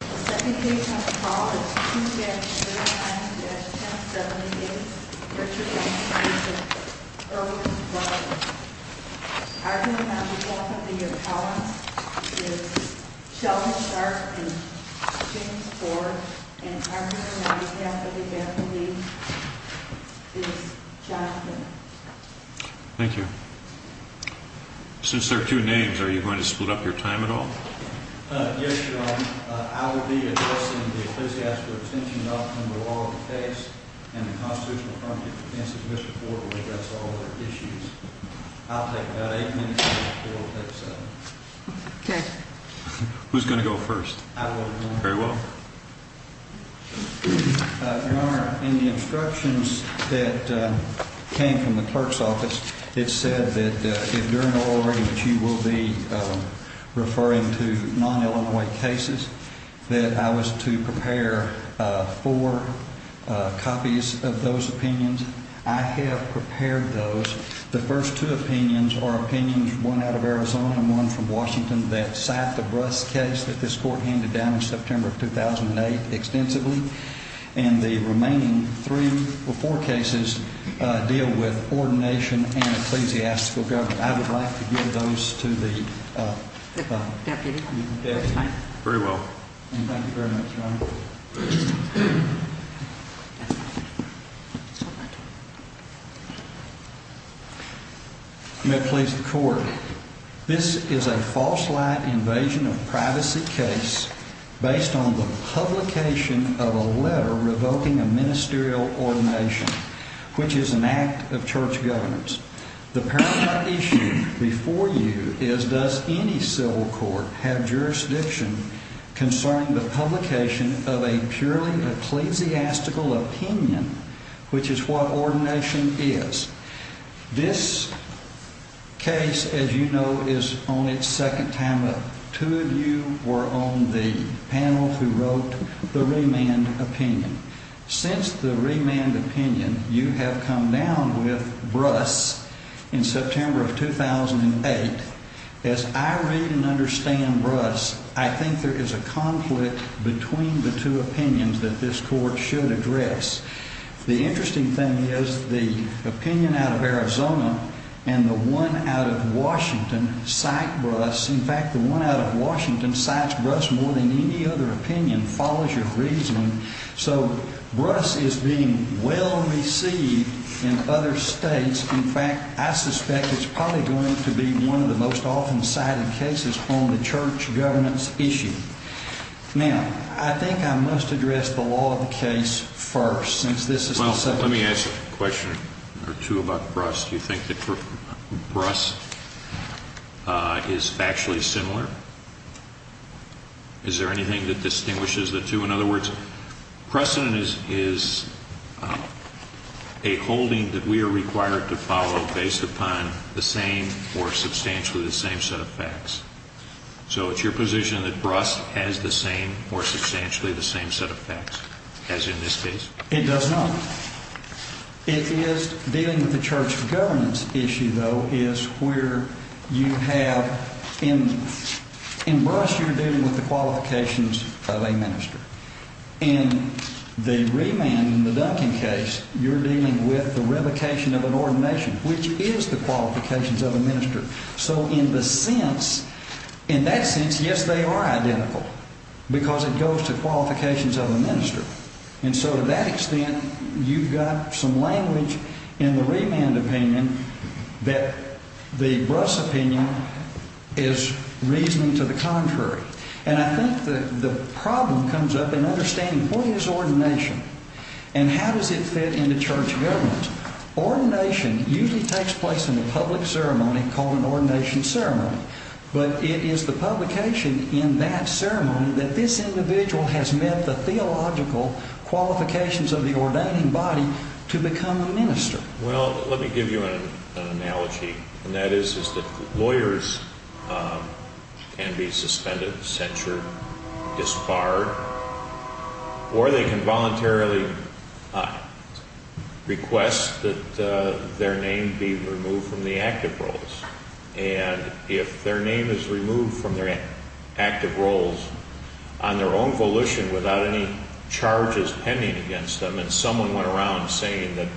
The second case on the call is 2-3-1078, Richard Langston v. Irwin, Florida. Arguing on behalf of the appellants is Sheldon Stark v. James Ford, and arguing on behalf of the attorneys is Jonathan. Thank you. Since there are two names, are you going to split up your time at all? Yes, Your Honor. I will be addressing the Ecclesiastical Extension Act under the law of the case, and the constitutional affirmative defense of Mr. Ford will address all of their issues. I'll take about eight minutes, and Mr. Ford will take seven. Okay. Who's going to go first? I will, Your Honor. Very well. Your Honor, in the instructions that came from the clerk's office, it said that if during the oral argument you will be referring to non-Illinois cases, that I was to prepare four copies of those opinions. I have prepared those. The first two opinions are opinions, one out of Arizona and one from Washington, that cite the Bruss case that this Court handed down in September of 2008 extensively. And the remaining three or four cases deal with ordination and ecclesiastical government. I would like to give those to the deputy. Thank you very much, Your Honor. Mr. Ford. May it please the Court, this is a false light invasion of privacy case based on the publication of a letter revoking a ministerial ordination, which is an act of church governance. The paradigm issue before you is, does any civil court have jurisdiction concerning the publication of a purely ecclesiastical opinion, which is what ordination is? This case, as you know, is on its second time up. Two of you were on the panel who wrote the remand opinion. Since the remand opinion, you have come down with Bruss in September of 2008. As I read and understand Bruss, I think there is a conflict between the two opinions that this Court should address. The interesting thing is the opinion out of Arizona and the one out of Washington cite Bruss. In fact, the one out of Washington cites Bruss more than any other opinion, follows your reasoning. So Bruss is being well received in other states. In fact, I suspect it's probably going to be one of the most often cited cases on the church governance issue. Now, I think I must address the law of the case first. Let me ask a question or two about Bruss. Do you think that Bruss is factually similar? Is there anything that distinguishes the two? In other words, precedent is a holding that we are required to follow based upon the same or substantially the same set of facts. So it's your position that Bruss has the same or substantially the same set of facts as in this case? It does not. It is dealing with the church governance issue, though, is where you have in Bruss you're dealing with the qualifications of a minister. In the remand, in the Duncan case, you're dealing with the revocation of an ordination, which is the qualifications of a minister. So in that sense, yes, they are identical because it goes to qualifications of a minister. And so to that extent, you've got some language in the remand opinion that the Bruss opinion is reasoning to the contrary. And I think the problem comes up in understanding what is ordination and how does it fit into church governance. Ordination usually takes place in a public ceremony called an ordination ceremony. But it is the publication in that ceremony that this individual has met the theological qualifications of the ordaining body to become a minister. Well, let me give you an analogy, and that is that lawyers can be suspended, censured, disbarred, or they can voluntarily request that their name be removed from the active roles. And if their name is removed from their active roles on their own volition without any charges pending against them, and someone went around saying that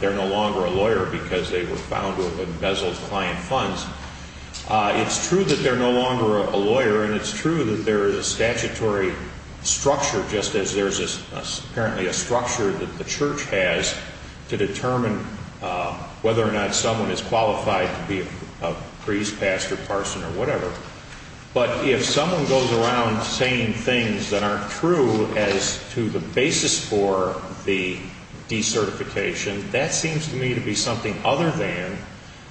they're no longer a lawyer because they were found with embezzled client funds, it's true that they're no longer a lawyer, and it's true that there is a statutory structure, just as there's apparently a structure that the church has to determine whether or not someone is qualified to be a priest, pastor, parson, or whatever. But if someone goes around saying things that aren't true as to the basis for the decertification, that seems to me to be something other than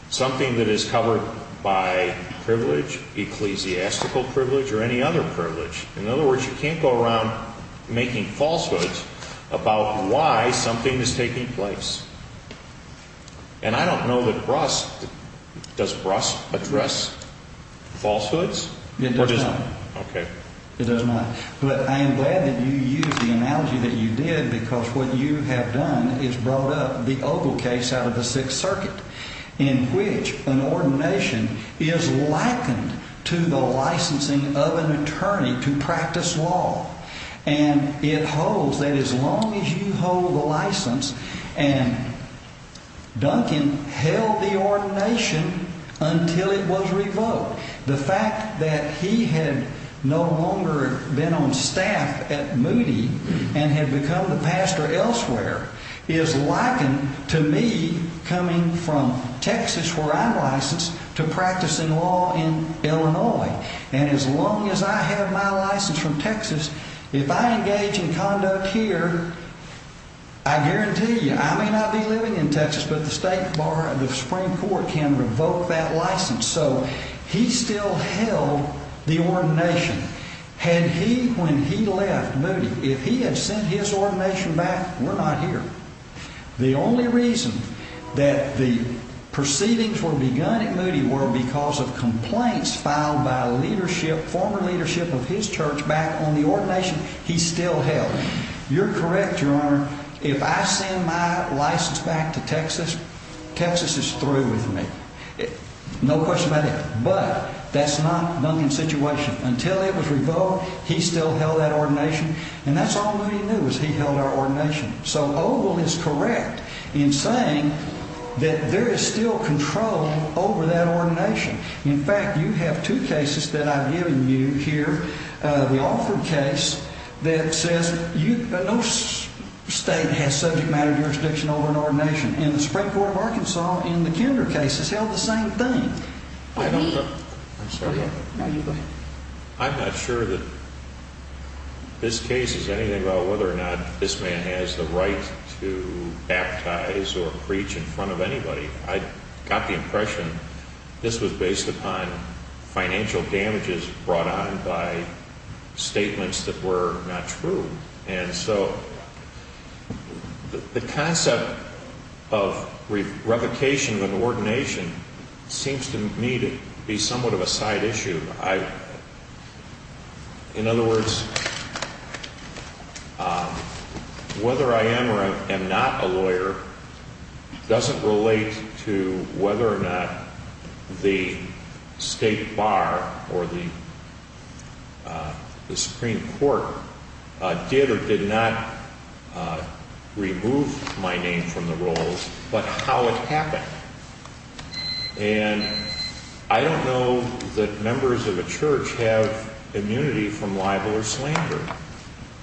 something that is covered by privilege, ecclesiastical privilege, or any other privilege. In other words, you can't go around making falsehoods about why something is taking place. And I don't know that Brost – does Brost address falsehoods? It does not. Okay. It does not. But I am glad that you used the analogy that you did because what you have done is brought up the Ogle case out of the Sixth Circuit, in which an ordination is likened to the licensing of an attorney to practice law. And it holds that as long as you hold the license – and Duncan held the ordination until it was revoked. The fact that he had no longer been on staff at Moody and had become the pastor elsewhere is likened to me coming from Texas, where I'm licensed, to practicing law in Illinois. And as long as I have my license from Texas, if I engage in conduct here, I guarantee you I may not be living in Texas, but the Supreme Court can revoke that license. So he still held the ordination. Had he – when he left Moody, if he had sent his ordination back, we're not here. The only reason that the proceedings were begun at Moody were because of complaints filed by leadership, former leadership of his church, back on the ordination he still held. You're correct, Your Honor. If I send my license back to Texas, Texas is through with me. No question about it. But that's not Duncan's situation. Until it was revoked, he still held that ordination. And that's all Moody knew, was he held our ordination. So Oval is correct in saying that there is still control over that ordination. In fact, you have two cases that I've given you here. The Alford case that says no state has subject matter jurisdiction over an ordination. And the Supreme Court of Arkansas in the Kinder case has held the same thing. I'm not sure that this case is anything about whether or not this man has the right to baptize or preach in front of anybody. I got the impression this was based upon financial damages brought on by statements that were not true. And so the concept of revocation of an ordination seems to me to be somewhat of a side issue. In other words, whether I am or am not a lawyer doesn't relate to whether or not the State Bar or the Supreme Court did or did not remove my name from the rolls, but how it happened. And I don't know that members of a church have immunity from libel or slander.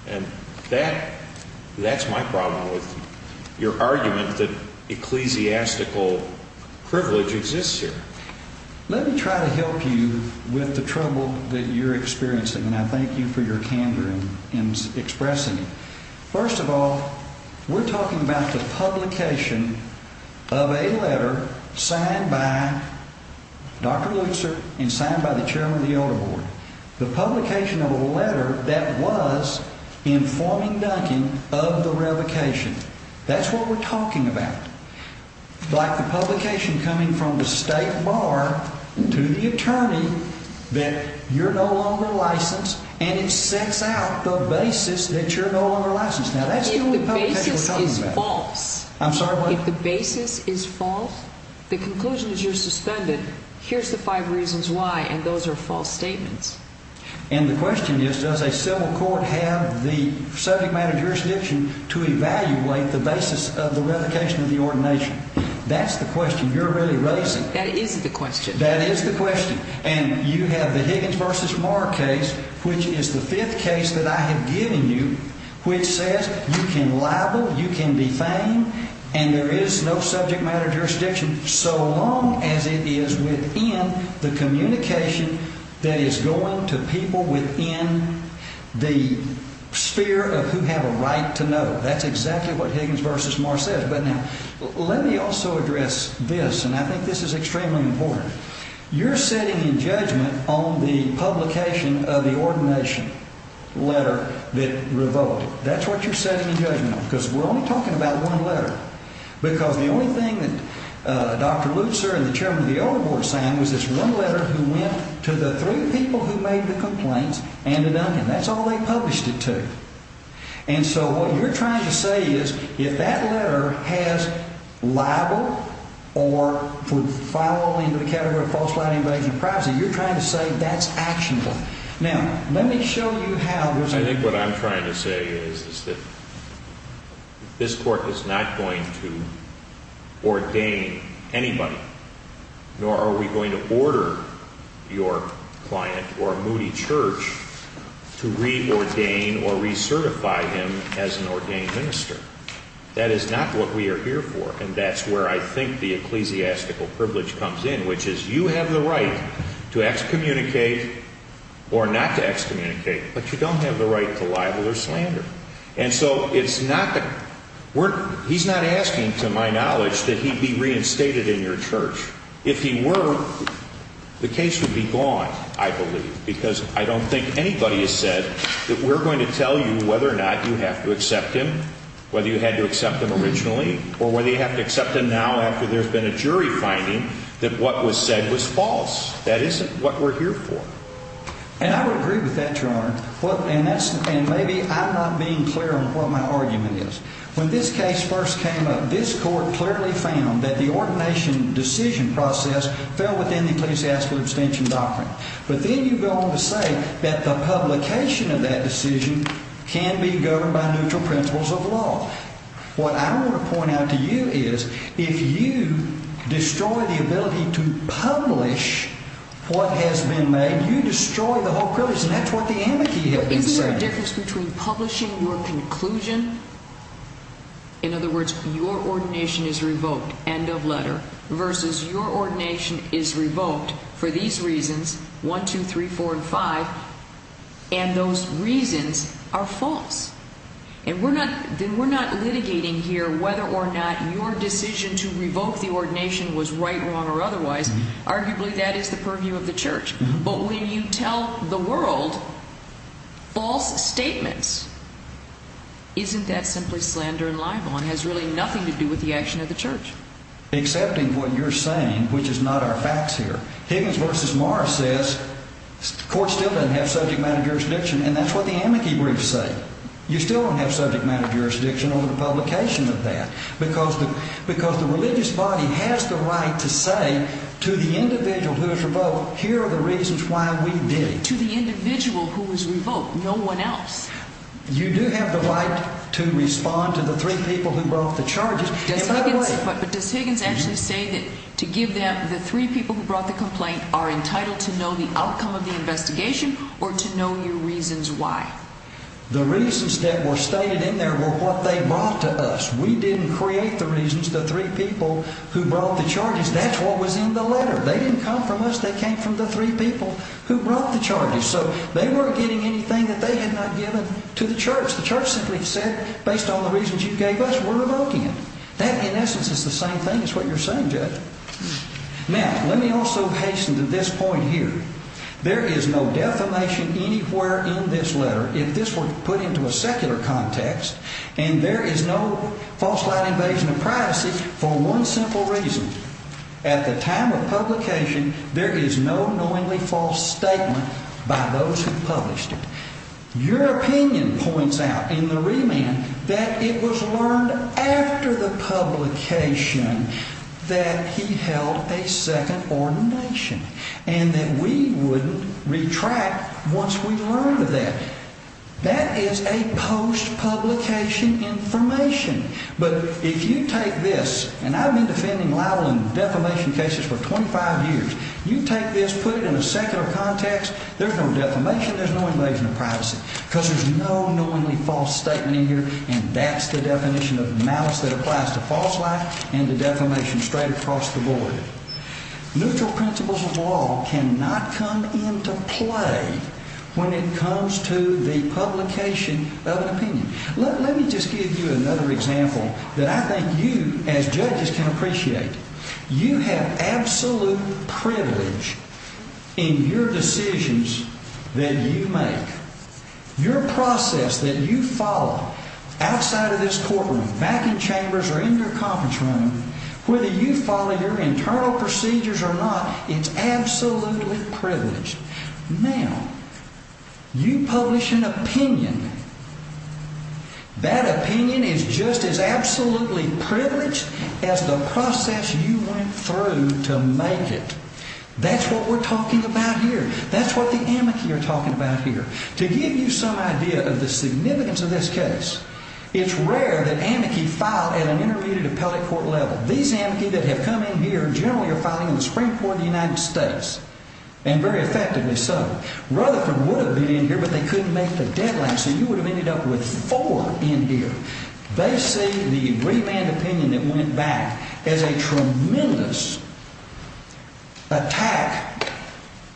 And that's my problem with your argument that ecclesiastical privilege exists here. Let me try to help you with the trouble that you're experiencing, and I thank you for your candor in expressing it. First of all, we're talking about the publication of a letter signed by Dr. Lutzer and signed by the Chairman of the Elder Board. The publication of a letter that was informing Duncan of the revocation. That's what we're talking about. Like the publication coming from the State Bar to the attorney that you're no longer licensed, and it sets out the basis that you're no longer licensed. Now, that's the only publication we're talking about. If the basis is false, the conclusion is you're suspended. Here's the five reasons why, and those are false statements. And the question is, does a civil court have the subject matter jurisdiction to evaluate the basis of the revocation of the ordination? That's the question you're really raising. That is the question. That is the question. And you have the Higgins v. Moore case, which is the fifth case that I have given you, which says you can libel, you can defame, and there is no subject matter jurisdiction, so long as it is within the communication that is going to people within the sphere of who have a right to know. That's exactly what Higgins v. Moore says. But now, let me also address this, and I think this is extremely important. You're setting a judgment on the publication of the ordination letter that revoked it. That's what you're setting a judgment on, because we're only talking about one letter, because the only thing that Dr. Lutzer and the chairman of the Oval Board signed was this one letter who went to the three people who made the complaints and to Duncan. That's all they published it to. And so what you're trying to say is if that letter has libel or would fall into the category of false plight, invasion of privacy, you're trying to say that's actionable. Now, let me show you how. I think what I'm trying to say is that this Court is not going to ordain anybody, nor are we going to order your client or Moody Church to reordain or recertify him as an ordained minister. That is not what we are here for, and that's where I think the ecclesiastical privilege comes in, which is you have the right to excommunicate or not to excommunicate, but you don't have the right to libel or slander. And so he's not asking, to my knowledge, that he be reinstated in your church. If he were, the case would be gone, I believe, because I don't think anybody has said that we're going to tell you whether or not you have to accept him, whether you had to accept him originally or whether you have to accept him now after there's been a jury finding that what was said was false. That isn't what we're here for. And I would agree with that, Your Honor. And maybe I'm not being clear on what my argument is. When this case first came up, this Court clearly found that the ordination decision process fell within the ecclesiastical abstention doctrine. But then you go on to say that the publication of that decision can be governed by neutral principles of law. What I want to point out to you is if you destroy the ability to publish what has been made, you destroy the whole privilege, and that's what the amici have been saying. Isn't there a difference between publishing your conclusion, in other words, your ordination is revoked, end of letter, versus your ordination is revoked for these reasons, 1, 2, 3, 4, and 5, and those reasons are false? And we're not litigating here whether or not your decision to revoke the ordination was right, wrong, or otherwise. Arguably, that is the purview of the Church. But when you tell the world false statements, isn't that simply slander and libel and has really nothing to do with the action of the Church? Accepting what you're saying, which is not our facts here. Higgins v. Morris says the Court still doesn't have subject matter jurisdiction, and that's what the amici briefs say. You still don't have subject matter jurisdiction over the publication of that. Because the religious body has the right to say to the individual who is revoked, here are the reasons why we did it. To the individual who was revoked, no one else. You do have the right to respond to the three people who brought the charges. But does Higgins actually say that to give them the three people who brought the complaint are entitled to know the outcome of the investigation or to know your reasons why? The reasons that were stated in there were what they brought to us. We didn't create the reasons, the three people who brought the charges. That's what was in the letter. They didn't come from us. They came from the three people who brought the charges. So they weren't getting anything that they had not given to the Church. The Church simply said, based on the reasons you gave us, we're revoking it. That, in essence, is the same thing as what you're saying, Judge. Now, let me also hasten to this point here. There is no defamation anywhere in this letter, if this were put into a secular context. And there is no false light invasion of privacy for one simple reason. At the time of publication, there is no knowingly false statement by those who published it. Your opinion points out in the remand that it was learned after the publication that he held a second ordination and that we wouldn't retract once we learned of that. That is a post-publication information. But if you take this, and I've been defending Lowell in defamation cases for 25 years, you take this, put it in a secular context, there's no defamation, there's no invasion of privacy. Because there's no knowingly false statement in here, and that's the definition of malice that applies to false light and to defamation straight across the board. Neutral principles of law cannot come into play when it comes to the publication of an opinion. Let me just give you another example that I think you, as judges, can appreciate. You have absolute privilege in your decisions that you make. Your process that you follow outside of this courtroom, back in chambers, or in your conference room, whether you follow your internal procedures or not, it's absolutely privileged. Now, you publish an opinion. That opinion is just as absolutely privileged as the process you went through to make it. That's what we're talking about here. That's what the amici are talking about here. To give you some idea of the significance of this case, it's rare that amici file at an intermediate appellate court level. These amici that have come in here generally are filing in the Supreme Court of the United States. And very effectively so. Rutherford would have been in here, but they couldn't make the deadline, so you would have ended up with four in here. They see the remand opinion that went back as a tremendous attack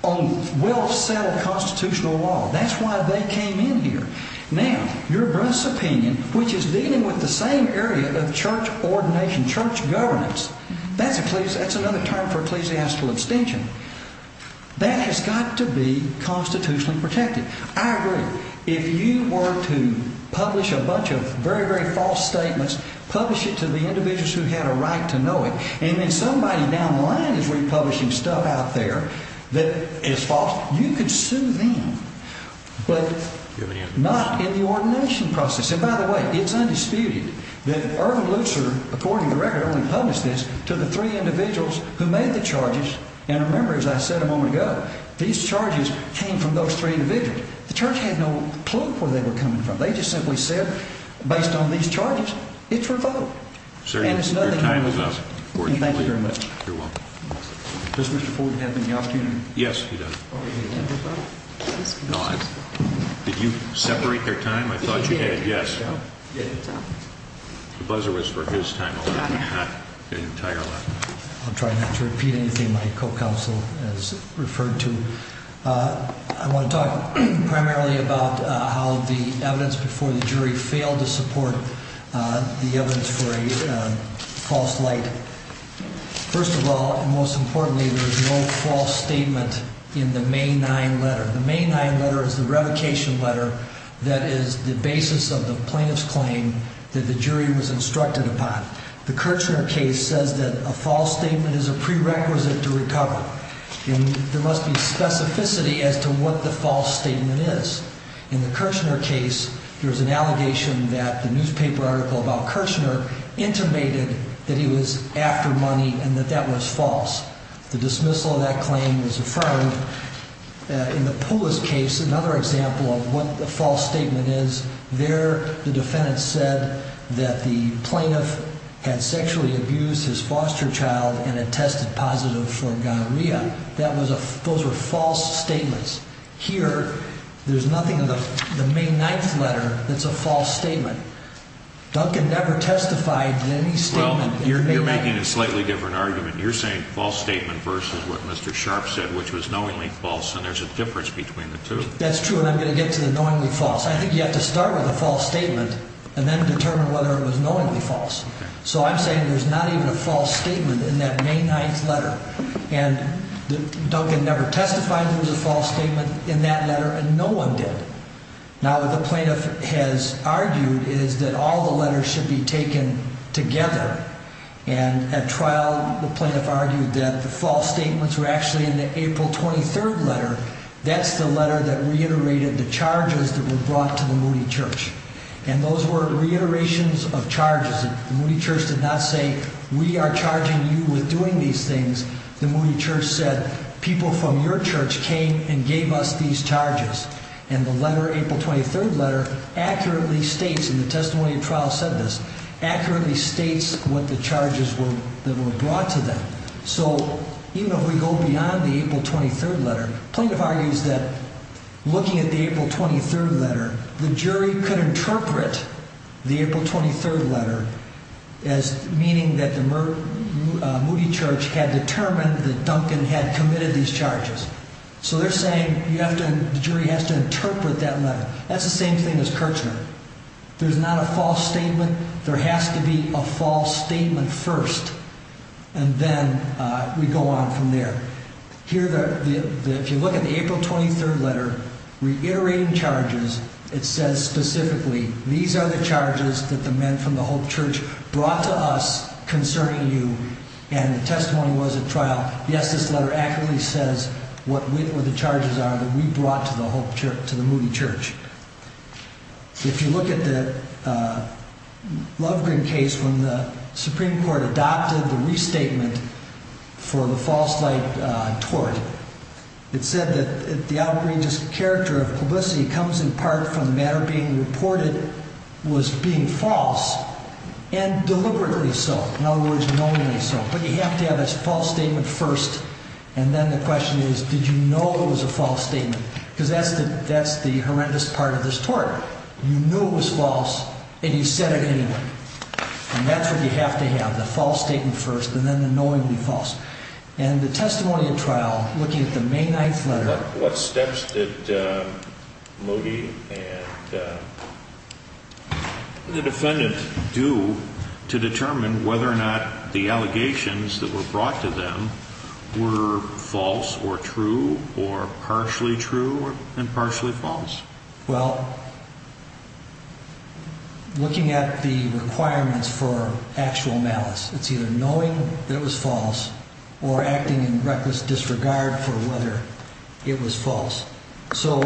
on well-settled constitutional law. That's why they came in here. Now, your gross opinion, which is dealing with the same area of church ordination, church governance, that's another term for ecclesiastical abstention. That has got to be constitutionally protected. I agree. If you were to publish a bunch of very, very false statements, publish it to the individuals who had a right to know it, and then somebody down the line is republishing stuff out there that is false, you could sue them, but not in the ordination process. By the way, it's undisputed that Irvin Lutzer, according to the record, only published this to the three individuals who made the charges. And remember, as I said a moment ago, these charges came from those three individuals. The church had no clue where they were coming from. They just simply said, based on these charges, it's revoked. Sir, your time is up. Thank you very much. You're welcome. Does Mr. Ford have any opportunity? Yes, he does. Did you separate their time? I thought you did. Yes. The buzzer was for his time only, not the entire time. I'll try not to repeat anything my co-counsel has referred to. I want to talk primarily about how the evidence before the jury failed to support the evidence for a false light. First of all, and most importantly, there is no false statement in the May 9 letter. The May 9 letter is the revocation letter that is the basis of the plaintiff's claim that the jury was instructed upon. The Kirchner case says that a false statement is a prerequisite to recover. There must be specificity as to what the false statement is. In the Kirchner case, there was an allegation that the newspaper article about Kirchner intimated that he was after money and that that was false. The dismissal of that claim was affirmed. In the Pulis case, another example of what the false statement is, there the defendant said that the plaintiff had sexually abused his foster child and had tested positive for gonorrhea. Those were false statements. Here, there's nothing in the May 9 letter that's a false statement. Duncan never testified in any statement. Well, you're making a slightly different argument. You're saying false statement versus what Mr. Sharp said, which was knowingly false, and there's a difference between the two. That's true, and I'm going to get to the knowingly false. I think you have to start with a false statement and then determine whether it was knowingly false. So I'm saying there's not even a false statement in that May 9 letter. And Duncan never testified there was a false statement in that letter, and no one did. Now, what the plaintiff has argued is that all the letters should be taken together. And at trial, the plaintiff argued that the false statements were actually in the April 23 letter. That's the letter that reiterated the charges that were brought to the Moody Church. And those were reiterations of charges. The Moody Church did not say, we are charging you with doing these things. The Moody Church said, people from your church came and gave us these charges. And the letter, April 23 letter, accurately states, and the testimony of trial said this, accurately states what the charges were that were brought to them. So even if we go beyond the April 23 letter, the plaintiff argues that looking at the April 23 letter, the jury could interpret the April 23 letter as meaning that the Moody Church had determined that Duncan had committed these charges. So they're saying the jury has to interpret that letter. That's the same thing as Kirchner. There's not a false statement. There has to be a false statement first. And then we go on from there. Here, if you look at the April 23 letter, reiterating charges, it says specifically, these are the charges that the men from the Hope Church brought to us concerning you. And the testimony was at trial. Yes, this letter accurately says what the charges are that we brought to the Moody Church. If you look at the Lovegreen case, when the Supreme Court adopted the restatement for the false light tort, it said that the outrageous character of publicity comes in part from the matter being reported was being false, and deliberately so. In other words, knowingly so. But you have to have a false statement first. And then the question is, did you know it was a false statement? Because that's the horrendous part of this tort. You knew it was false, and you said it anyway. And that's what you have to have, the false statement first, and then the knowingly false. And the testimony at trial, looking at the May 9th letter. What steps did Moody and the defendant do to determine whether or not the allegations that were brought to them were false or true or partially true? Well, looking at the requirements for actual malice, it's either knowing that it was false or acting in reckless disregard for whether it was false. So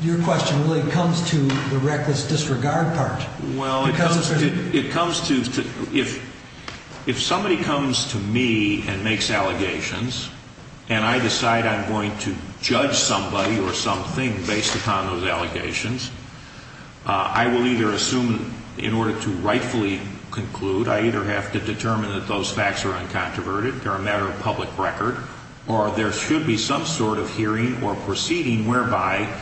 your question really comes to the reckless disregard part. Well, it comes to, if somebody comes to me and makes allegations, and I decide I'm going to judge somebody or something based upon those allegations, I will either assume in order to rightfully conclude, I either have to determine that those facts are uncontroverted, they're a matter of public record, or there should be some sort of hearing or proceeding whereby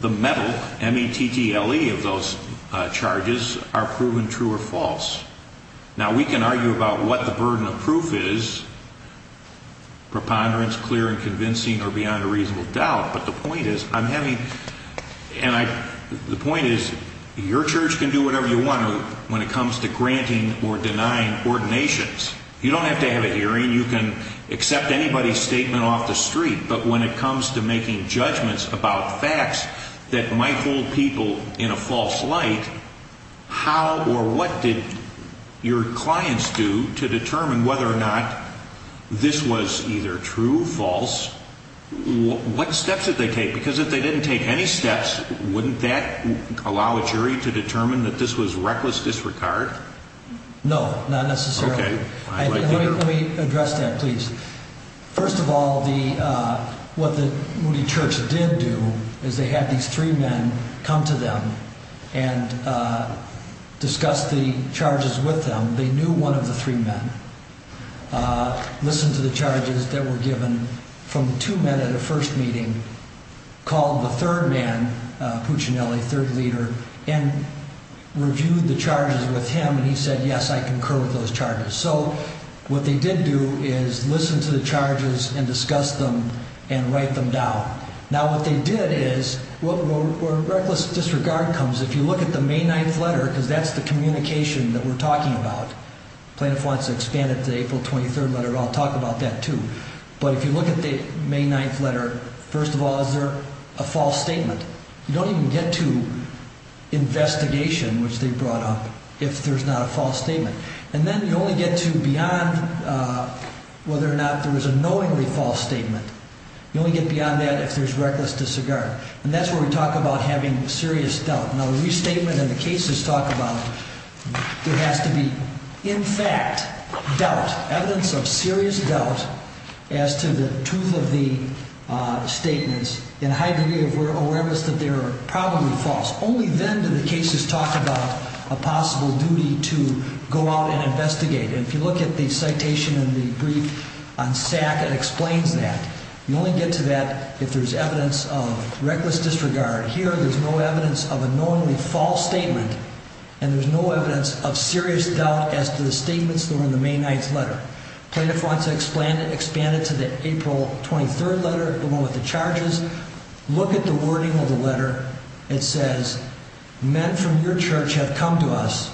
the metal, M-E-T-T-L-E, of those charges are proven true or false. Now, we can argue about what the burden of proof is, preponderance, clear and convincing, or beyond a reasonable doubt. But the point is, I'm having, and I, the point is, your church can do whatever you want when it comes to granting or denying ordinations. You don't have to have a hearing. You can accept anybody's statement off the street. But when it comes to making judgments about facts that might hold people in a false light, how or what did your clients do to determine whether or not this was either true, false, what steps did they take? Because if they didn't take any steps, wouldn't that allow a jury to determine that this was reckless disregard? No, not necessarily. Okay. Let me address that, please. First of all, what the Moody Church did do is they had these three men come to them and discuss the charges with them. They knew one of the three men, listened to the charges that were given from the two men at a first meeting, called the third man, Puccinelli, third leader, and reviewed the charges with him, and he said, yes, I concur with those charges. So what they did do is listen to the charges and discuss them and write them down. Now, what they did is where reckless disregard comes, if you look at the May 9th letter, because that's the communication that we're talking about, Plano Fuente's expanded to the April 23rd letter, and I'll talk about that, too. But if you look at the May 9th letter, first of all, is there a false statement? You don't even get to investigation, which they brought up, if there's not a false statement. And then you only get to beyond whether or not there was a knowingly false statement. You only get beyond that if there's reckless disregard. And that's where we talk about having serious doubt. Now, the restatement and the cases talk about there has to be, in fact, doubt, evidence of serious doubt as to the truth of the statements, in high degree of awareness that they're probably false. Only then do the cases talk about a possible duty to go out and investigate. And if you look at the citation in the brief on SAC, it explains that. You only get to that if there's evidence of reckless disregard. Here, there's no evidence of a knowingly false statement, and there's no evidence of serious doubt as to the statements that were in the May 9th letter. Plano Fuente expanded to the April 23rd letter, the one with the charges. Look at the wording of the letter. It says, men from your church have come to us,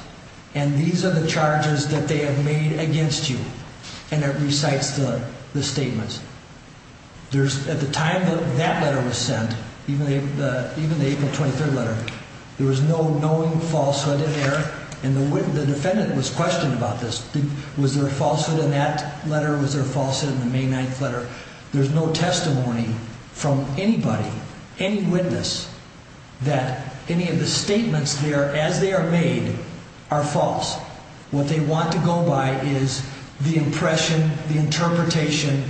and these are the charges that they have made against you. And it recites the statements. At the time that letter was sent, even the April 23rd letter, there was no knowing falsehood in there, and the defendant was questioned about this. Was there a falsehood in that letter? Was there a falsehood in the May 9th letter? There's no testimony from anybody, any witness, that any of the statements there, as they are made, are false. What they want to go by is the impression, the interpretation,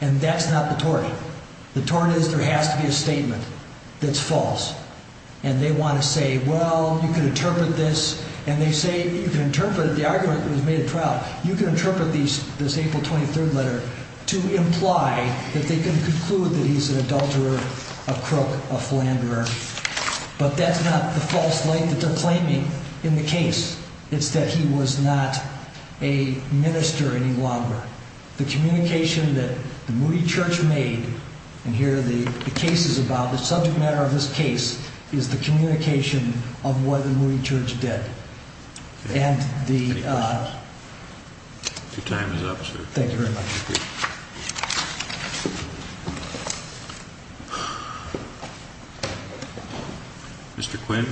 and that's not the tort. The tort is there has to be a statement that's false. And they want to say, well, you can interpret this. And they say, you can interpret it, the argument that was made at trial, you can interpret this April 23rd letter to imply that they can conclude that he's an adulterer, a crook, a philanderer. But that's not the false light that they're claiming in the case. It's that he was not a minister any longer. The communication that the Moody Church made, and here the case is about, the subject matter of this case is the communication of what the Moody Church did. Any questions? Your time is up, sir. Thank you very much. Mr. Quinn?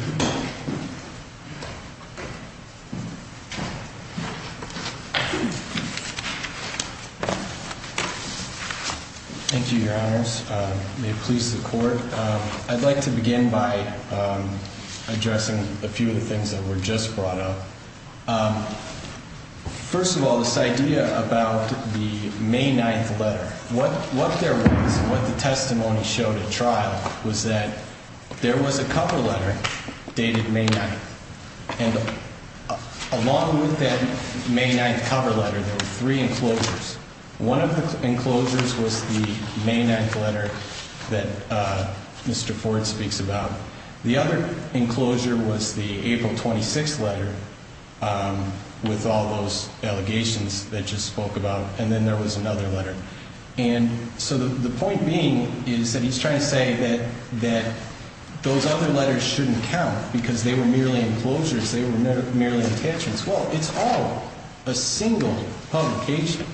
Thank you, Your Honors. May it please the Court. I'd like to begin by addressing a few of the things that were just brought up. First of all, this idea about the May 9th letter. What there was, what the testimony showed at trial, was that there was a cover letter dated May 9th. And along with that May 9th cover letter, there were three enclosures. One of the enclosures was the May 9th letter that Mr. Ford speaks about. The other enclosure was the April 26th letter with all those allegations that just spoke about. And then there was another letter. And so the point being is that he's trying to say that those other letters shouldn't count because they were merely enclosures, they were merely attachments. Well, it's all a single publication.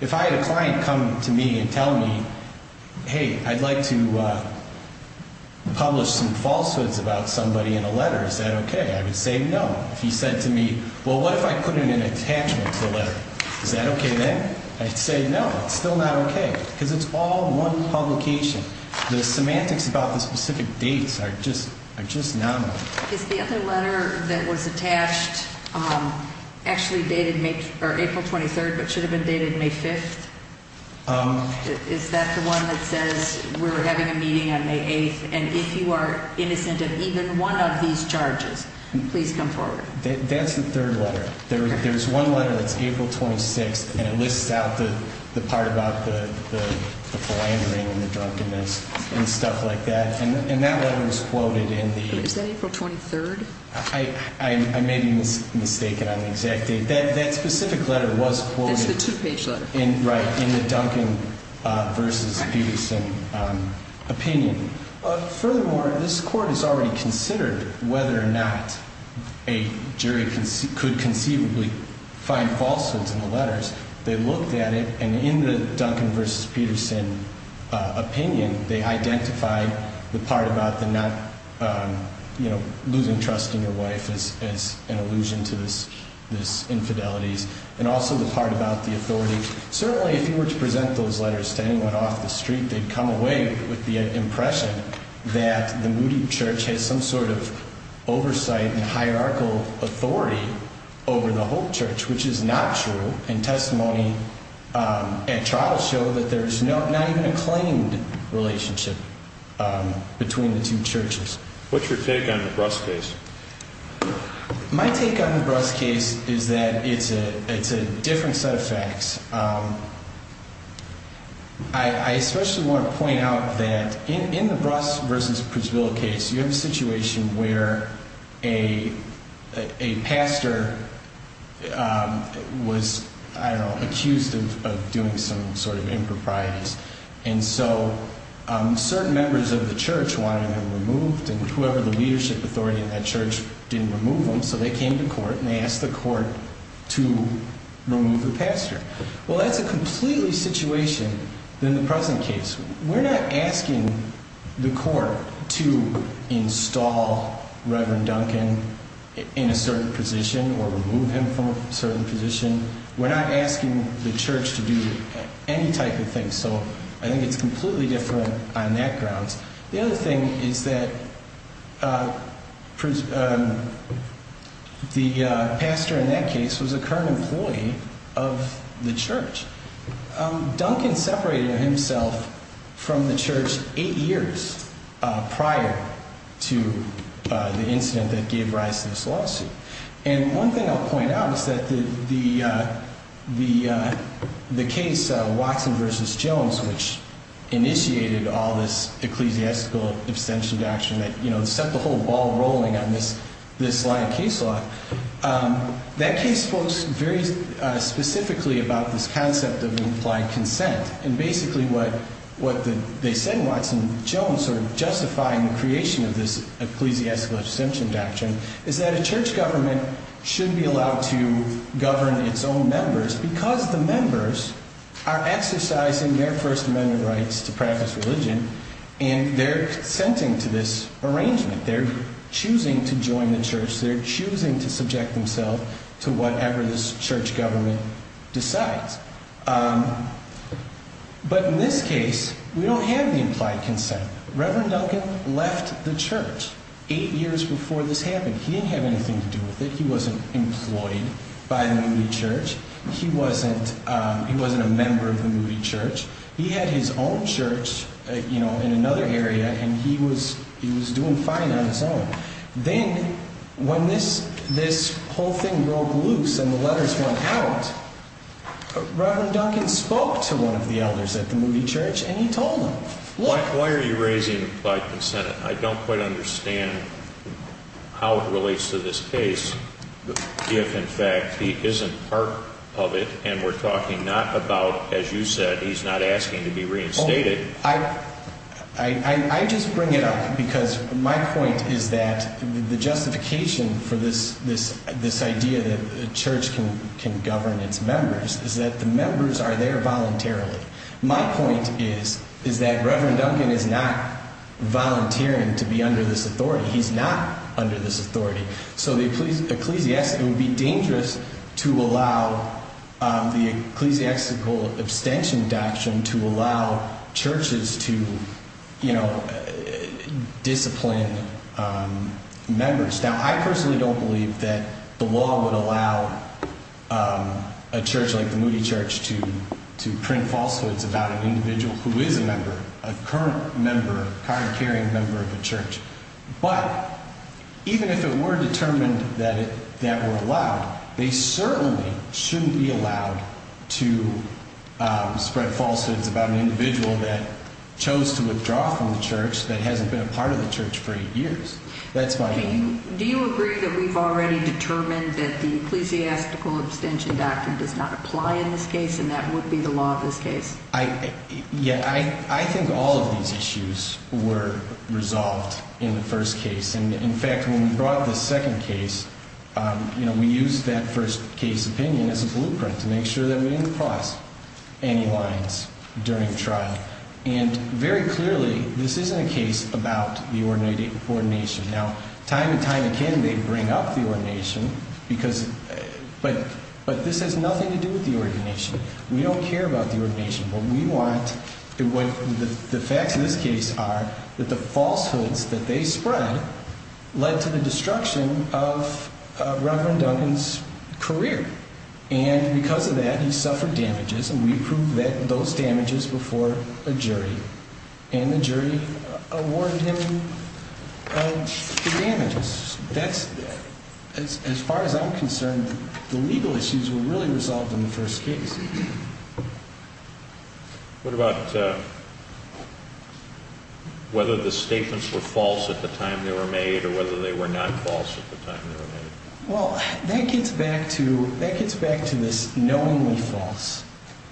If I had a client come to me and tell me, hey, I'd like to publish some falsehoods about somebody in a letter, is that okay? I would say no. If he said to me, well, what if I put in an attachment to the letter? Is that okay then? I'd say no, it's still not okay because it's all one publication. The semantics about the specific dates are just nominal. Is the other letter that was attached actually dated April 23rd but should have been dated May 5th? Is that the one that says we're having a meeting on May 8th and if you are innocent of even one of these charges, please come forward. That's the third letter. There's one letter that's April 26th and it lists out the part about the philandering and the drunkenness and stuff like that, and that letter was quoted in the- Is that April 23rd? I may be mistaken on the exact date. That specific letter was quoted- It's the two-page letter. Right, in the Duncan v. Peterson opinion. Furthermore, this court has already considered whether or not a jury could conceivably find falsehoods in the letters. They looked at it and in the Duncan v. Peterson opinion, they identified the part about the not losing trust in your wife as an allusion to this infidelities and also the part about the authority. Certainly if you were to present those letters to anyone off the street, they'd come away with the impression that the Moody church has some sort of oversight and hierarchical authority over the whole church, which is not true. And testimony at trial showed that there's not even a claimed relationship between the two churches. What's your take on the Bruss case? My take on the Bruss case is that it's a different set of facts. I especially want to point out that in the Bruss v. Prisvilla case, you have a situation where a pastor was, I don't know, accused of doing some sort of improprieties. And so certain members of the church wanted him removed, and whoever the leadership authority in that church didn't remove him, so they came to court and they asked the court to remove the pastor. Well, that's a completely situation than the present case. We're not asking the court to install Reverend Duncan in a certain position or remove him from a certain position. We're not asking the church to do any type of thing. So I think it's completely different on that grounds. The other thing is that the pastor in that case was a current employee of the church. Duncan separated himself from the church eight years prior to the incident that gave rise to this lawsuit. And one thing I'll point out is that the case Watson v. Jones, which initiated all this ecclesiastical abstention doctrine that set the whole ball rolling on this line of case law, that case spoke very specifically about this concept of implied consent. And basically what they said in Watson v. Jones sort of justified the creation of this ecclesiastical abstention doctrine is that a church government should be allowed to govern its own members because the members are exercising their First Amendment rights to practice religion and they're consenting to this arrangement. They're choosing to join the church. They're choosing to subject themselves to whatever this church government decides. But in this case, we don't have the implied consent. Reverend Duncan left the church eight years before this happened. He didn't have anything to do with it. He wasn't employed by the Moody Church. He wasn't a member of the Moody Church. He had his own church in another area, and he was doing fine on his own. Then when this whole thing broke loose and the letters went out, Reverend Duncan spoke to one of the elders at the Moody Church, and he told them, Why are you raising implied consent? I don't quite understand how it relates to this case if, in fact, he isn't part of it and we're talking not about, as you said, he's not asking to be reinstated. I just bring it up because my point is that the justification for this idea that a church can govern its members is that the members are there voluntarily. My point is that Reverend Duncan is not volunteering to be under this authority. He's not under this authority. So it would be dangerous to allow the ecclesiastical abstention doctrine to allow churches to discipline members. Now, I personally don't believe that the law would allow a church like the Moody Church to print falsehoods about an individual who is a member, a current member, card-carrying member of a church. But even if it were determined that that were allowed, they certainly shouldn't be allowed to spread falsehoods about an individual that chose to withdraw from the church that hasn't been a part of the church for eight years. That's my opinion. Do you agree that we've already determined that the ecclesiastical abstention doctrine does not apply in this case and that would be the law of this case? Yeah, I think all of these issues were resolved in the first case. And, in fact, when we brought the second case, we used that first case opinion as a blueprint to make sure that we didn't cross any lines during the trial. And, very clearly, this isn't a case about the ordination. Now, time and time again they bring up the ordination, but this has nothing to do with the ordination. We don't care about the ordination. The facts of this case are that the falsehoods that they spread led to the destruction of Reverend Duncan's career. And, because of that, he suffered damages, and we proved those damages before a jury. And the jury awarded him damages. That's, as far as I'm concerned, the legal issues were really resolved in the first case. What about whether the statements were false at the time they were made or whether they were not false at the time they were made? Well, that gets back to this knowingly false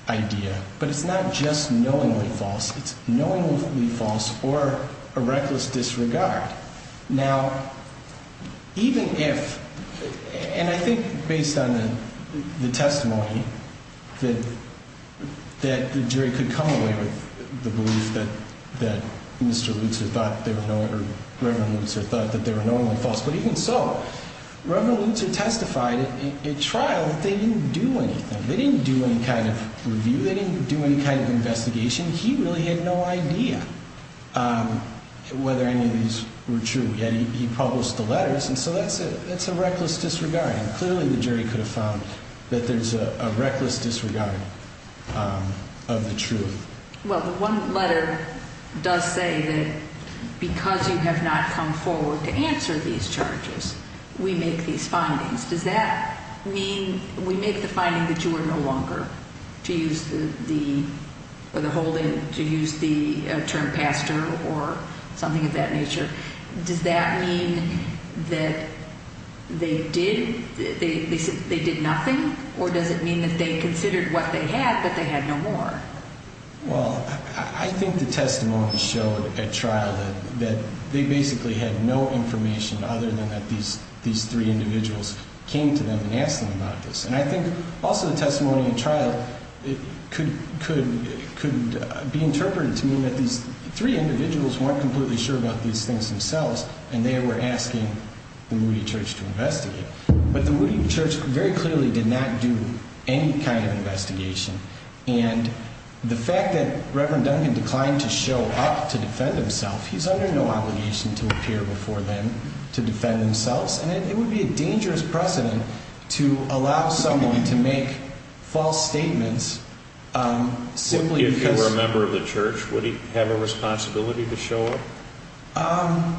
idea. But it's not just knowingly false. It's knowingly false or a reckless disregard. Now, even if, and I think based on the testimony, that the jury could come away with the belief that Mr. Lutzer thought, Reverend Lutzer testified at trial that they didn't do anything. They didn't do any kind of review. They didn't do any kind of investigation. He really had no idea whether any of these were true, yet he published the letters. And so that's a reckless disregard. And clearly the jury could have found that there's a reckless disregard of the truth. Well, the one letter does say that because you have not come forward to answer these charges, we make these findings. Does that mean we make the finding that you are no longer to use the holding, to use the term pastor or something of that nature? Does that mean that they did nothing, or does it mean that they considered what they had but they had no more? Well, I think the testimony showed at trial that they basically had no information other than that these three individuals came to them and asked them about this. And I think also the testimony at trial could be interpreted to mean that these three individuals weren't completely sure about these things themselves, and they were asking the Moody Church to investigate. But the Moody Church very clearly did not do any kind of investigation. And the fact that Reverend Duncan declined to show up to defend himself, he's under no obligation to appear before them to defend themselves, and it would be a dangerous precedent to allow someone to make false statements simply because If he were a member of the church, would he have a responsibility to show up?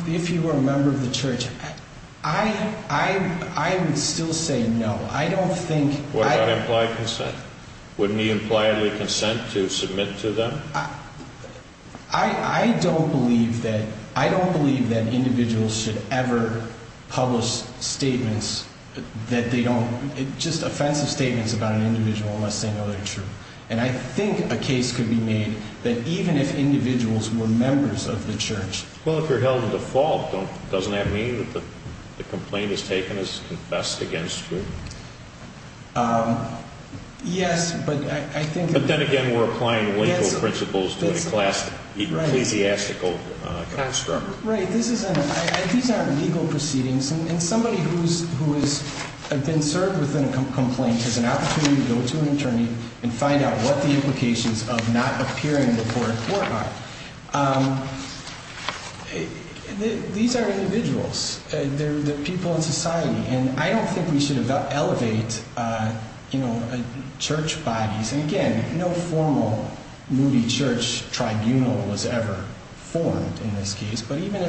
If he were a member of the church, I would still say no. I don't think... What about implied consent? Wouldn't he impliedly consent to submit to them? I don't believe that individuals should ever publish statements that they don't... just offensive statements about an individual unless they know they're true. And I think a case could be made that even if individuals were members of the church... Well, if you're held to fault, doesn't that mean that the complaint is taken as confessed against you? Yes, but I think... But then again, we're applying legal principles to a ecclesiastical construct. Right. These aren't legal proceedings. And somebody who has been served with a complaint has an opportunity to go to an attorney and find out what the implications of not appearing before a court are. These are individuals. They're people in society. And I don't think we should elevate church bodies. And again, no formal moody church tribunal was ever formed in this case. But even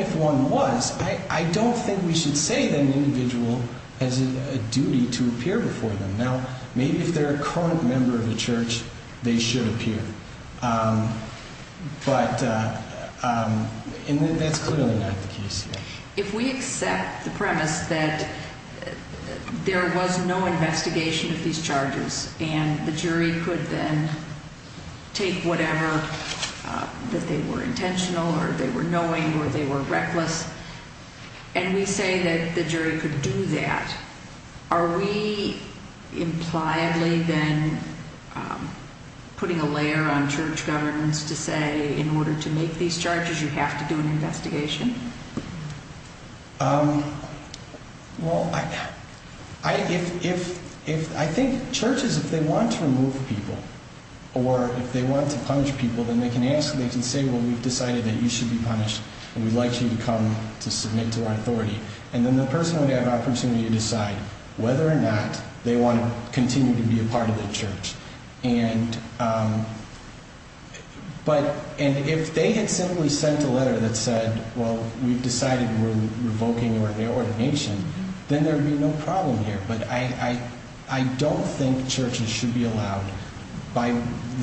if one was, I don't think we should say that an individual has a duty to appear before them. Now, maybe if they're a current member of the church, they should appear. And that's clearly not the case here. If we accept the premise that there was no investigation of these charges... and the jury could then take whatever, that they were intentional or they were knowing or they were reckless... and we say that the jury could do that... are we impliedly then putting a layer on church governments to say, in order to make these charges, you have to do an investigation? I think churches, if they want to remove people, or if they want to punish people, then they can ask, they can say, well, we've decided that you should be punished and we'd like you to come to submit to our authority. And then the person would have the opportunity to decide whether or not they want to continue to be a part of the church. And if they had simply sent a letter that said, well, we've decided we're revoking your ordination, then there would be no problem here. But I don't think churches should be allowed, by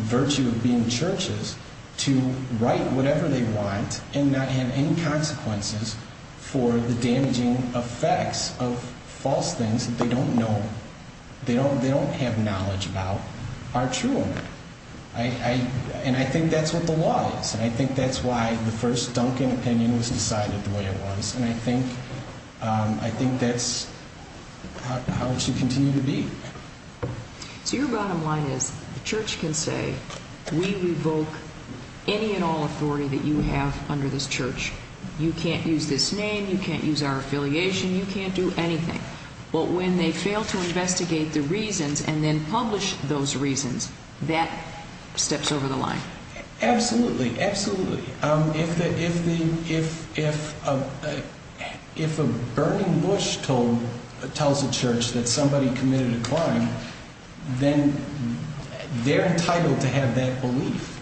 virtue of being churches, to write whatever they want and not have any consequences for the damaging effects of false things that they don't know, they don't have knowledge about, are true. And I think that's what the law is. And I think that's why the first Duncan opinion was decided the way it was. And I think that's how it should continue to be. So your bottom line is the church can say, we revoke any and all authority that you have under this church. You can't use this name. You can't use our affiliation. You can't do anything. But when they fail to investigate the reasons and then publish those reasons, that steps over the line. Absolutely. Absolutely. If a burning bush tells a church that somebody committed a crime, then they're entitled to have that belief.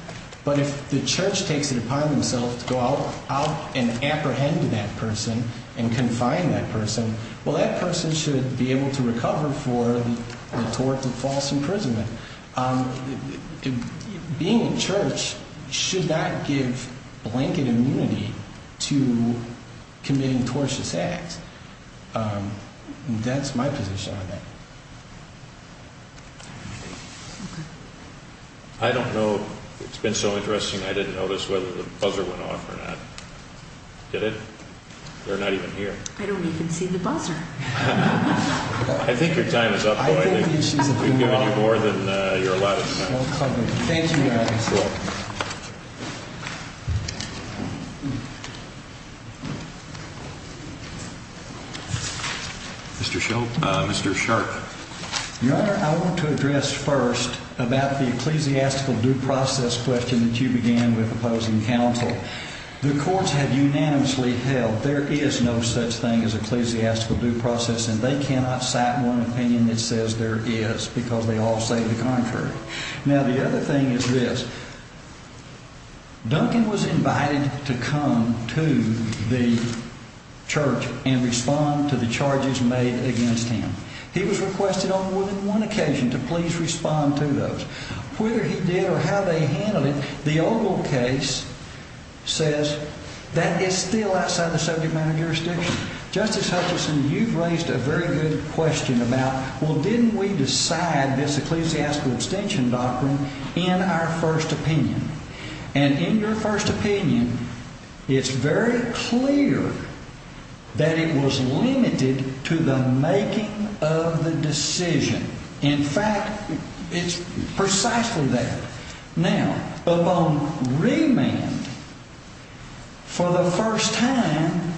But if the church takes it upon themselves to go out and apprehend that person and confine that person, well, that person should be able to recover for the tort of false imprisonment. Being in church should not give blanket immunity to committing tortious acts. That's my position on that. I don't know. It's been so interesting I didn't notice whether the buzzer went off or not. Did it? They're not even here. I don't even see the buzzer. I think your time is up, Boyd. We've given you more than you're allowed to say. Thank you, Your Honor. You're welcome. Mr. Sharp. Your Honor, I want to address first about the ecclesiastical due process question that you began with opposing counsel. The courts have unanimously held there is no such thing as ecclesiastical due process, and they cannot cite one opinion that says there is because they all say the contrary. Now, the other thing is this. Duncan was invited to come to the church and respond to the charges made against him. He was requested on more than one occasion to please respond to those. Whether he did or how they handled it, the Ogle case says that is still outside the subject matter jurisdiction. Justice Hutchinson, you've raised a very good question about, well, didn't we decide this ecclesiastical extension doctrine in our first opinion? And in your first opinion, it's very clear that it was limited to the making of the decision. In fact, it's precisely that. Now, upon remand, for the first time,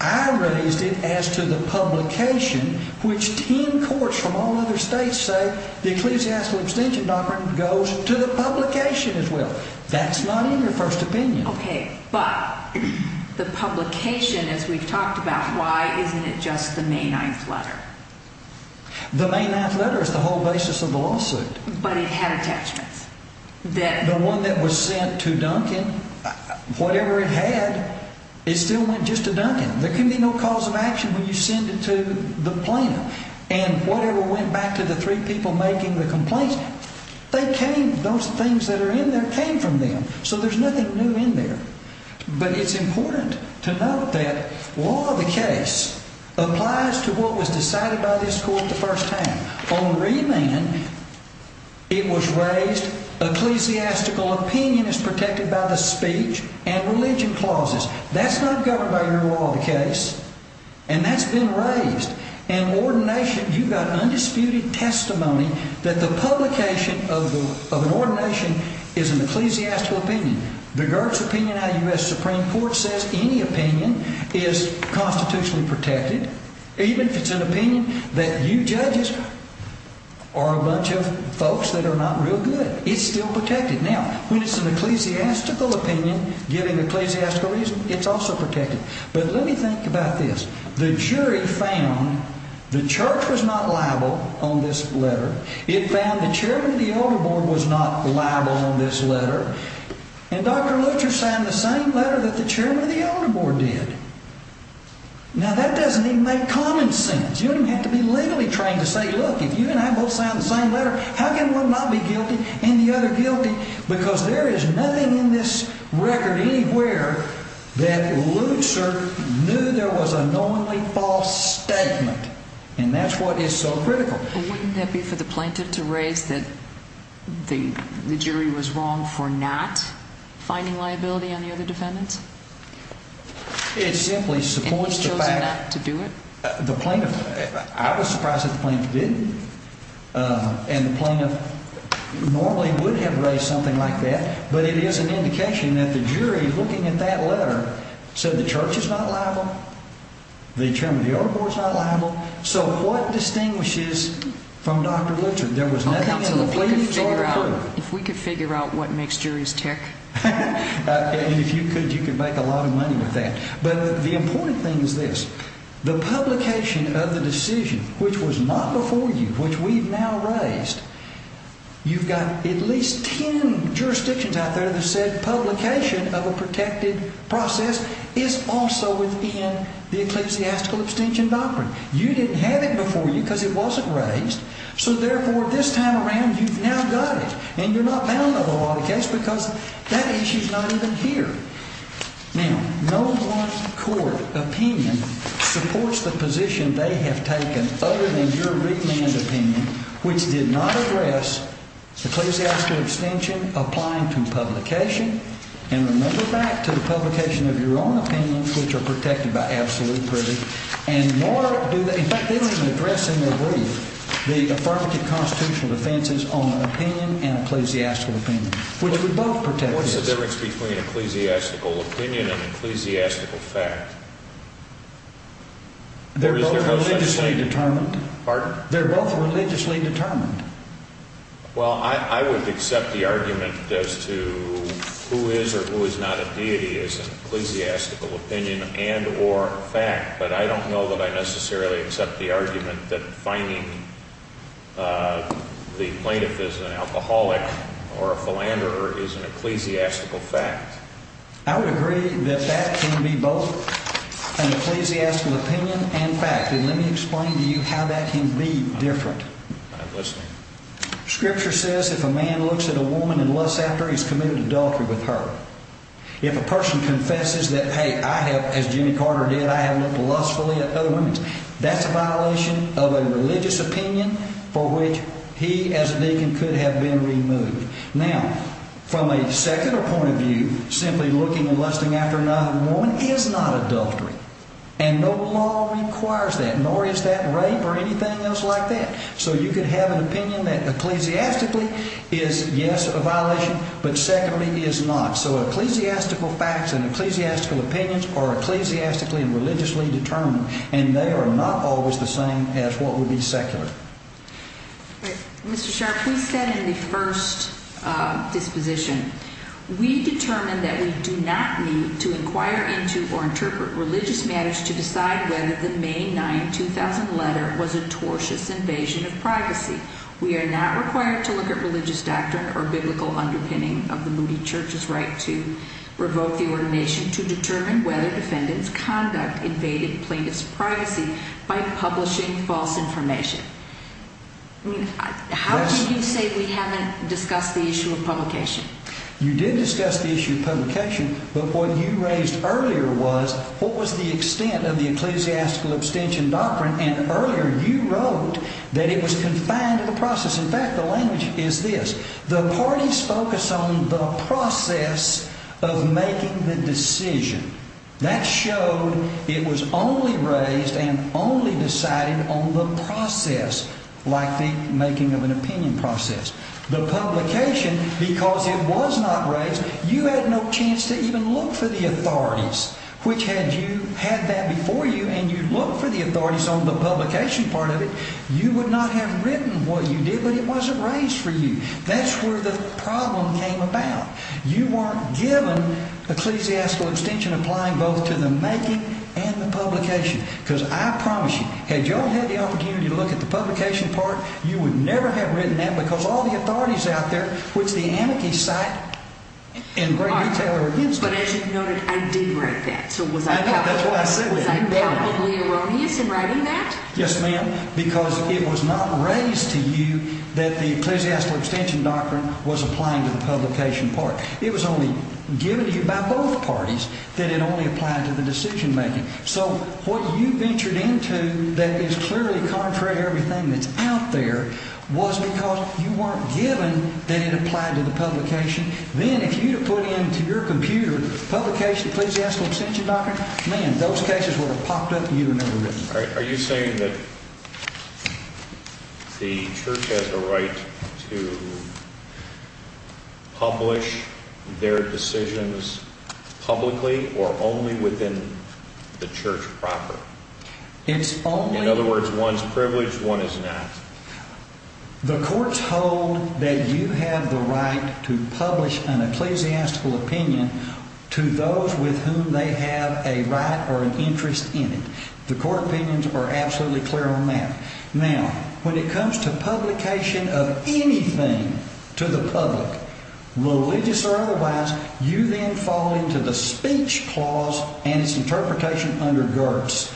I raised it as to the publication, which 10 courts from all other states say the ecclesiastical extension doctrine goes to the publication as well. That's not in your first opinion. Okay, but the publication, as we've talked about, why isn't it just the May 9th letter? The May 9th letter is the whole basis of the lawsuit. But it had attachments. The one that was sent to Duncan, whatever it had, it still went just to Duncan. There can be no cause of action when you send it to the plaintiff. And whatever went back to the three people making the complaints, those things that are in there came from them, so there's nothing new in there. But it's important to note that law of the case applies to what was decided by this court the first time. On remand, it was raised ecclesiastical opinion is protected by the speech and religion clauses. That's not governed by your law of the case, and that's been raised. In ordination, you got undisputed testimony that the publication of an ordination is an ecclesiastical opinion. The Gertz opinion out of U.S. Supreme Court says any opinion is constitutionally protected, even if it's an opinion that you judges are a bunch of folks that are not real good. It's still protected. Now, when it's an ecclesiastical opinion giving ecclesiastical reason, it's also protected. But let me think about this. The jury found the church was not liable on this letter. It found the chairman of the elder board was not liable on this letter, and Dr. Lutzer signed the same letter that the chairman of the elder board did. Now, that doesn't even make common sense. You don't even have to be legally trained to say, look, if you and I both signed the same letter, how can one not be guilty and the other guilty? Because there is nothing in this record anywhere that Lutzer knew there was a knowingly false statement, and that's what is so critical. Wouldn't that be for the plaintiff to raise that the jury was wrong for not finding liability on the other defendants? It simply supports the fact. And he chose not to do it? The plaintiff, I was surprised that the plaintiff didn't. And the plaintiff normally would have raised something like that, but it is an indication that the jury, looking at that letter, said the church is not liable, the chairman of the elder board is not liable. So what distinguishes from Dr. Lutzer? If we could figure out what makes juries tick. If you could, you could make a lot of money with that. But the important thing is this. The publication of the decision, which was not before you, which we've now raised, you've got at least ten jurisdictions out there that said publication of a protected process is also within the ecclesiastical abstention doctrine. You didn't have it before you because it wasn't raised. So therefore, this time around, you've now got it. And you're not bound by the law of the case because that issue is not even here. Now, no one court opinion supports the position they have taken, other than your remand opinion, which did not address the ecclesiastical abstention applying to publication. And remember back to the publication of your own opinions, which are protected by absolute privilege. And more do they, in fact, they don't even address in their brief the affirmative constitutional defenses on opinion and ecclesiastical opinion, which we both protect. What's the difference between ecclesiastical opinion and ecclesiastical fact? They're both religiously determined. Pardon? They're both religiously determined. Well, I would accept the argument as to who is or who is not a deity is an ecclesiastical opinion and or fact. But I don't know that I necessarily accept the argument that finding the plaintiff is an alcoholic or a philanderer is an ecclesiastical fact. I would agree that that can be both an ecclesiastical opinion and fact. And let me explain to you how that can be different. Scripture says if a man looks at a woman and lusts after her, he's committed adultery with her. If a person confesses that, hey, I have, as Jimmy Carter did, I have looked lustfully at other women, that's a violation of a religious opinion for which he as a deacon could have been removed. Now, from a secular point of view, simply looking and lusting after another woman is not adultery. And no law requires that, nor is that rape or anything else like that. So you could have an opinion that ecclesiastically is, yes, a violation, but secondly is not. So ecclesiastical facts and ecclesiastical opinions are ecclesiastically and religiously determined, and they are not always the same as what would be secular. Mr. Sharp, we said in the first disposition, we determined that we do not need to inquire into or interpret religious matters to decide whether the May 9, 2000 letter was a tortious invasion of privacy. We are not required to look at religious doctrine or biblical underpinning of the Moody Church's right to revoke the ordination to determine whether defendants' conduct invaded plaintiff's privacy by publishing false information. How can you say we haven't discussed the issue of publication? You did discuss the issue of publication, but what you raised earlier was what was the extent of the ecclesiastical abstention doctrine, and earlier you wrote that it was confined to the process. In fact, the language is this. The parties focus on the process of making the decision. That showed it was only raised and only decided on the process, like the making of an opinion process. The publication, because it was not raised, you had no chance to even look for the authorities. Which had you had that before you and you looked for the authorities on the publication part of it, you would not have written what you did, but it wasn't raised for you. That's where the problem came about. You weren't given ecclesiastical abstention applying both to the making and the publication. Because I promise you, had you all had the opportunity to look at the publication part, you would never have written that, because all the authorities out there, which the amici cite and bring retailer against them. But as you noted, I did write that. I know. That's why I said that. Was I palpably erroneous in writing that? Yes, ma'am, because it was not raised to you that the ecclesiastical abstention doctrine was applying to the publication part. It was only given to you by both parties that it only applied to the decision making. So what you ventured into that is clearly contrary to everything that's out there was because you weren't given that it applied to the publication. Then if you had put into your computer, publication, ecclesiastical abstention doctrine, man, those cases would have popped up and you would have never written it. Are you saying that the church has a right to publish their decisions publicly or only within the church proper? In other words, one's privileged, one is not. The courts hold that you have the right to publish an ecclesiastical opinion to those with whom they have a right or an interest in it. The court opinions are absolutely clear on that. Now, when it comes to publication of anything to the public, religious or otherwise, you then fall into the speech clause and its interpretation under Gertz.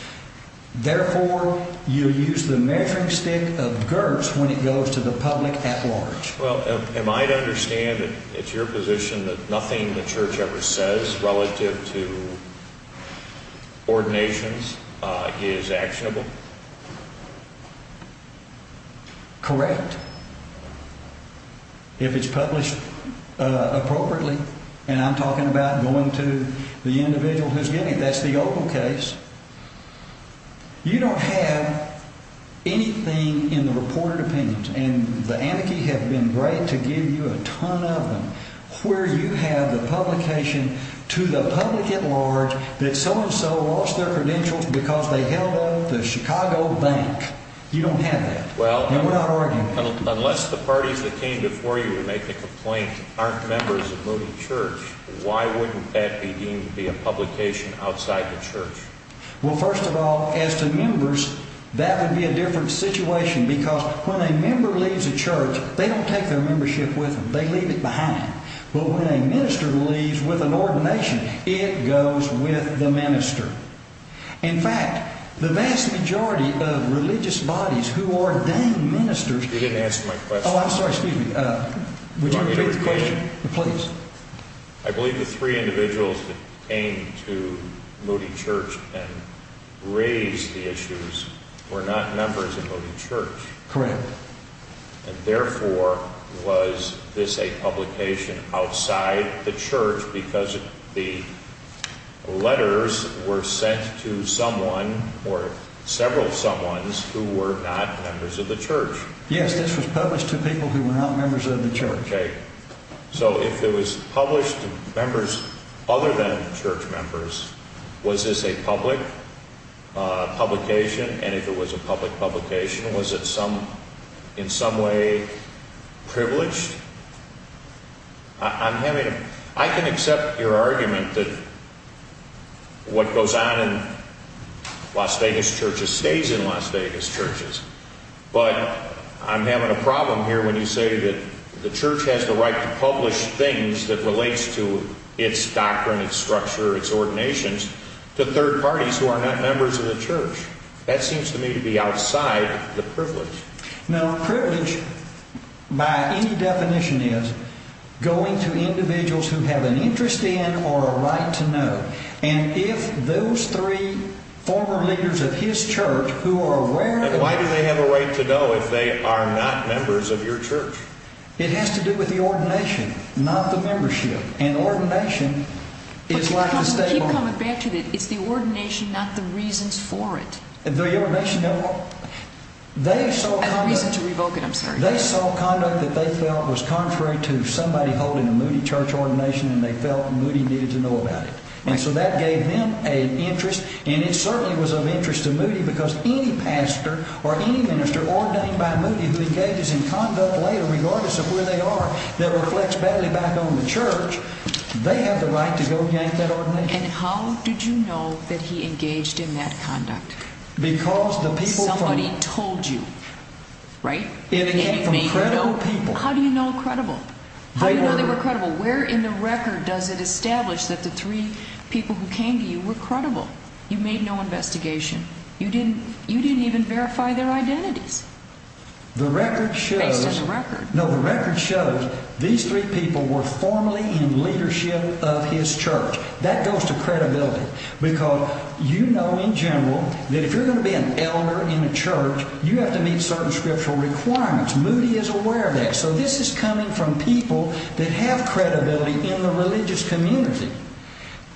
Therefore, you use the measuring stick of Gertz when it goes to the public at large. Well, am I to understand that it's your position that nothing the church ever says relative to ordinations is actionable? Correct. If it's published appropriately, and I'm talking about going to the individual who's getting it, that's the Opal case. You don't have anything in the reported opinions, and the anarchy had been great to give you a ton of them, where you have the publication to the public at large that so-and-so lost their credentials because they held up the Chicago bank. You don't have that. Well, unless the parties that came before you would make the complaint, aren't members of the church, why wouldn't that be deemed to be a publication outside the church? Well, first of all, as to members, that would be a different situation, because when a member leaves a church, they don't take their membership with them. They leave it behind. But when a minister leaves with an ordination, it goes with the minister. In fact, the vast majority of religious bodies who ordain ministers… You didn't answer my question. Oh, I'm sorry. Excuse me. Would you repeat the question, please? I believe the three individuals that came to Moody Church and raised the issues were not members of Moody Church. Correct. And therefore, was this a publication outside the church because the letters were sent to someone or several someones who were not members of the church? Yes, this was published to people who were not members of the church. Okay. So if it was published to members other than church members, was this a public publication? And if it was a public publication, was it in some way privileged? I can accept your argument that what goes on in Las Vegas churches stays in Las Vegas churches. But I'm having a problem here when you say that the church has the right to publish things that relates to its doctrine, its structure, its ordinations to third parties who are not members of the church. That seems to me to be outside the privilege. Now, privilege, by any definition, is going to individuals who have an interest in or a right to know. And if those three former leaders of his church who are aware of the… Then why do they have a right to know if they are not members of your church? It has to do with the ordination, not the membership. And ordination is like the… But you keep coming back to it. It's the ordination, not the reasons for it. The ordination… I have a reason to revoke it. I'm sorry. They saw conduct that they felt was contrary to somebody holding a Moody church ordination, and they felt Moody needed to know about it. And so that gave them an interest, and it certainly was of interest to Moody because any pastor or any minister ordained by Moody who engages in conduct later, regardless of where they are, that reflects badly back on the church, they have the right to go and get that ordination. And how did you know that he engaged in that conduct? Because the people from… Somebody told you, right? It came from credible people. How do you know they were credible? Where in the record does it establish that the three people who came to you were credible? You made no investigation. You didn't even verify their identities. The record shows… Based on the record. No, the record shows these three people were formally in leadership of his church. That goes to credibility. Because you know in general that if you're going to be an elder in a church, you have to meet certain scriptural requirements. Moody is aware of that. So this is coming from people that have credibility in the religious community.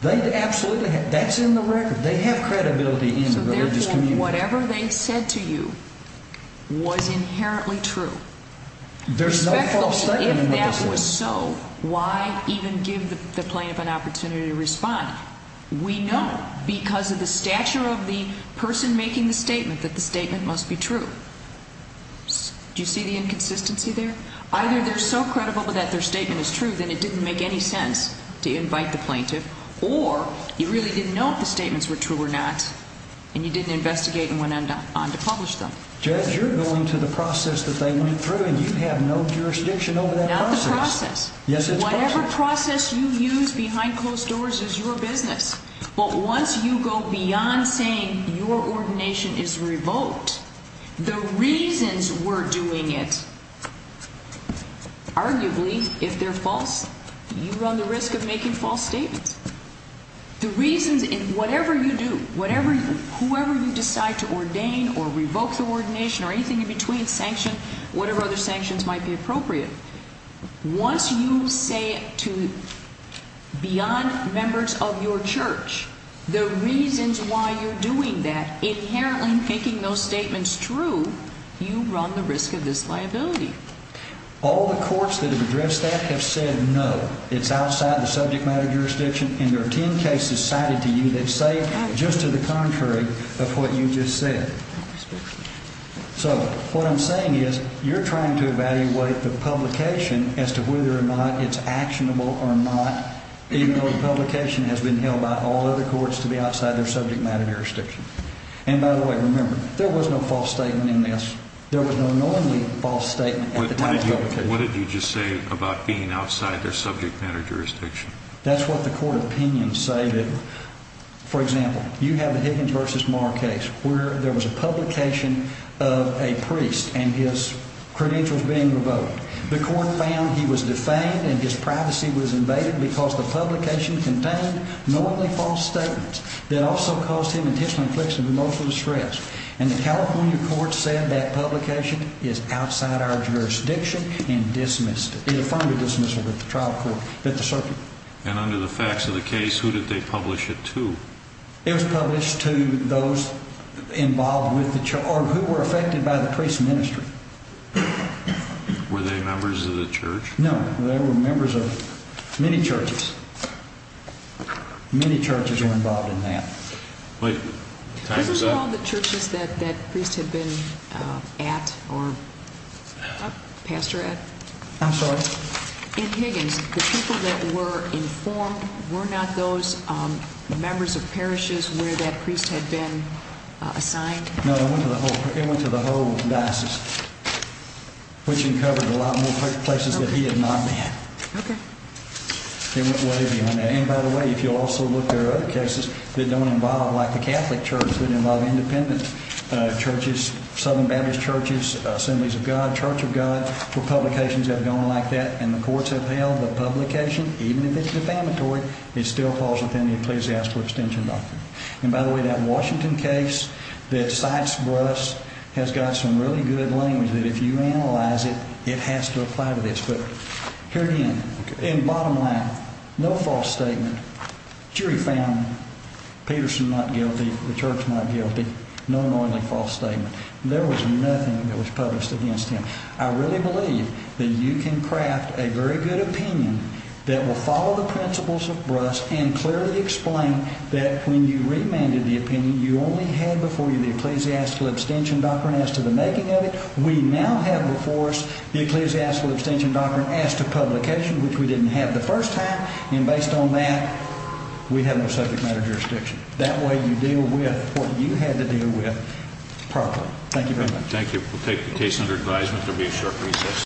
They absolutely have. That's in the record. They have credibility in the religious community. So therefore, whatever they said to you was inherently true? There's no false statement in the record. If that was so, why even give the plaintiff an opportunity to respond? We know because of the stature of the person making the statement that the statement must be true. Do you see the inconsistency there? Either they're so credible that their statement is true that it didn't make any sense to invite the plaintiff, or you really didn't know if the statements were true or not, and you didn't investigate and went on to publish them. Judge, you're going to the process that they went through, and you have no jurisdiction over that process. Yes, it's part of it. Whatever process you use behind closed doors is your business. But once you go beyond saying your ordination is revoked, the reasons we're doing it, arguably, if they're false, you run the risk of making false statements. The reasons in whatever you do, whoever you decide to ordain or revoke the ordination or anything in between, whatever other sanctions might be appropriate, once you say it to beyond members of your church, the reasons why you're doing that, inherently making those statements true, you run the risk of disliability. All the courts that have addressed that have said no. It's outside the subject matter jurisdiction, and there are 10 cases cited to you that say just to the contrary of what you just said. So what I'm saying is you're trying to evaluate the publication as to whether or not it's actionable or not, even though the publication has been held by all other courts to be outside their subject matter jurisdiction. And by the way, remember, there was no false statement in this. There was no knowingly false statement at the time of publication. What did you just say about being outside their subject matter jurisdiction? That's what the court opinions say. For example, you have the Higgins v. Marr case where there was a publication of a priest and his credentials being revoked. The court found he was defamed and his privacy was invaded because the publication contained knowingly false statements that also caused him intentional infliction of emotional distress. And the California court said that publication is outside our jurisdiction and dismissed it. It affirmed a dismissal at the trial court. And under the facts of the case, who did they publish it to? It was published to those involved with the church or who were affected by the priest's ministry. Were they members of the church? No, they were members of many churches. Many churches were involved in that. Those were all the churches that that priest had been at or pastor at? I'm sorry? In Higgins, the people that were informed were not those members of parishes where that priest had been assigned? No, they went to the whole diocese, which uncovered a lot more places that he had not been. Okay. They went way beyond that. And, by the way, if you also look, there are other cases that don't involve, like the Catholic church, that involve independent churches, Southern Baptist churches, Assemblies of God, Church of God. Publications have gone like that, and the courts have held the publication, even if it's defamatory, is still false within the Ecclesiastical Extension Doctrine. And, by the way, that Washington case that cites Bruss has got some really good language that if you analyze it, it has to apply to this. Here again, in bottom line, no false statement. Jury found Peterson not guilty, the church not guilty, no annoyingly false statement. There was nothing that was published against him. I really believe that you can craft a very good opinion that will follow the principles of Bruss and clearly explain that when you remanded the opinion you only had before you the Ecclesiastical Extension Doctrine as to the making of it. We now have before us the Ecclesiastical Extension Doctrine as to publication, which we didn't have the first time. And, based on that, we have no subject matter jurisdiction. That way you deal with what you had to deal with properly. Thank you very much. Thank you. We'll take the case under advisement. There will be a short recess.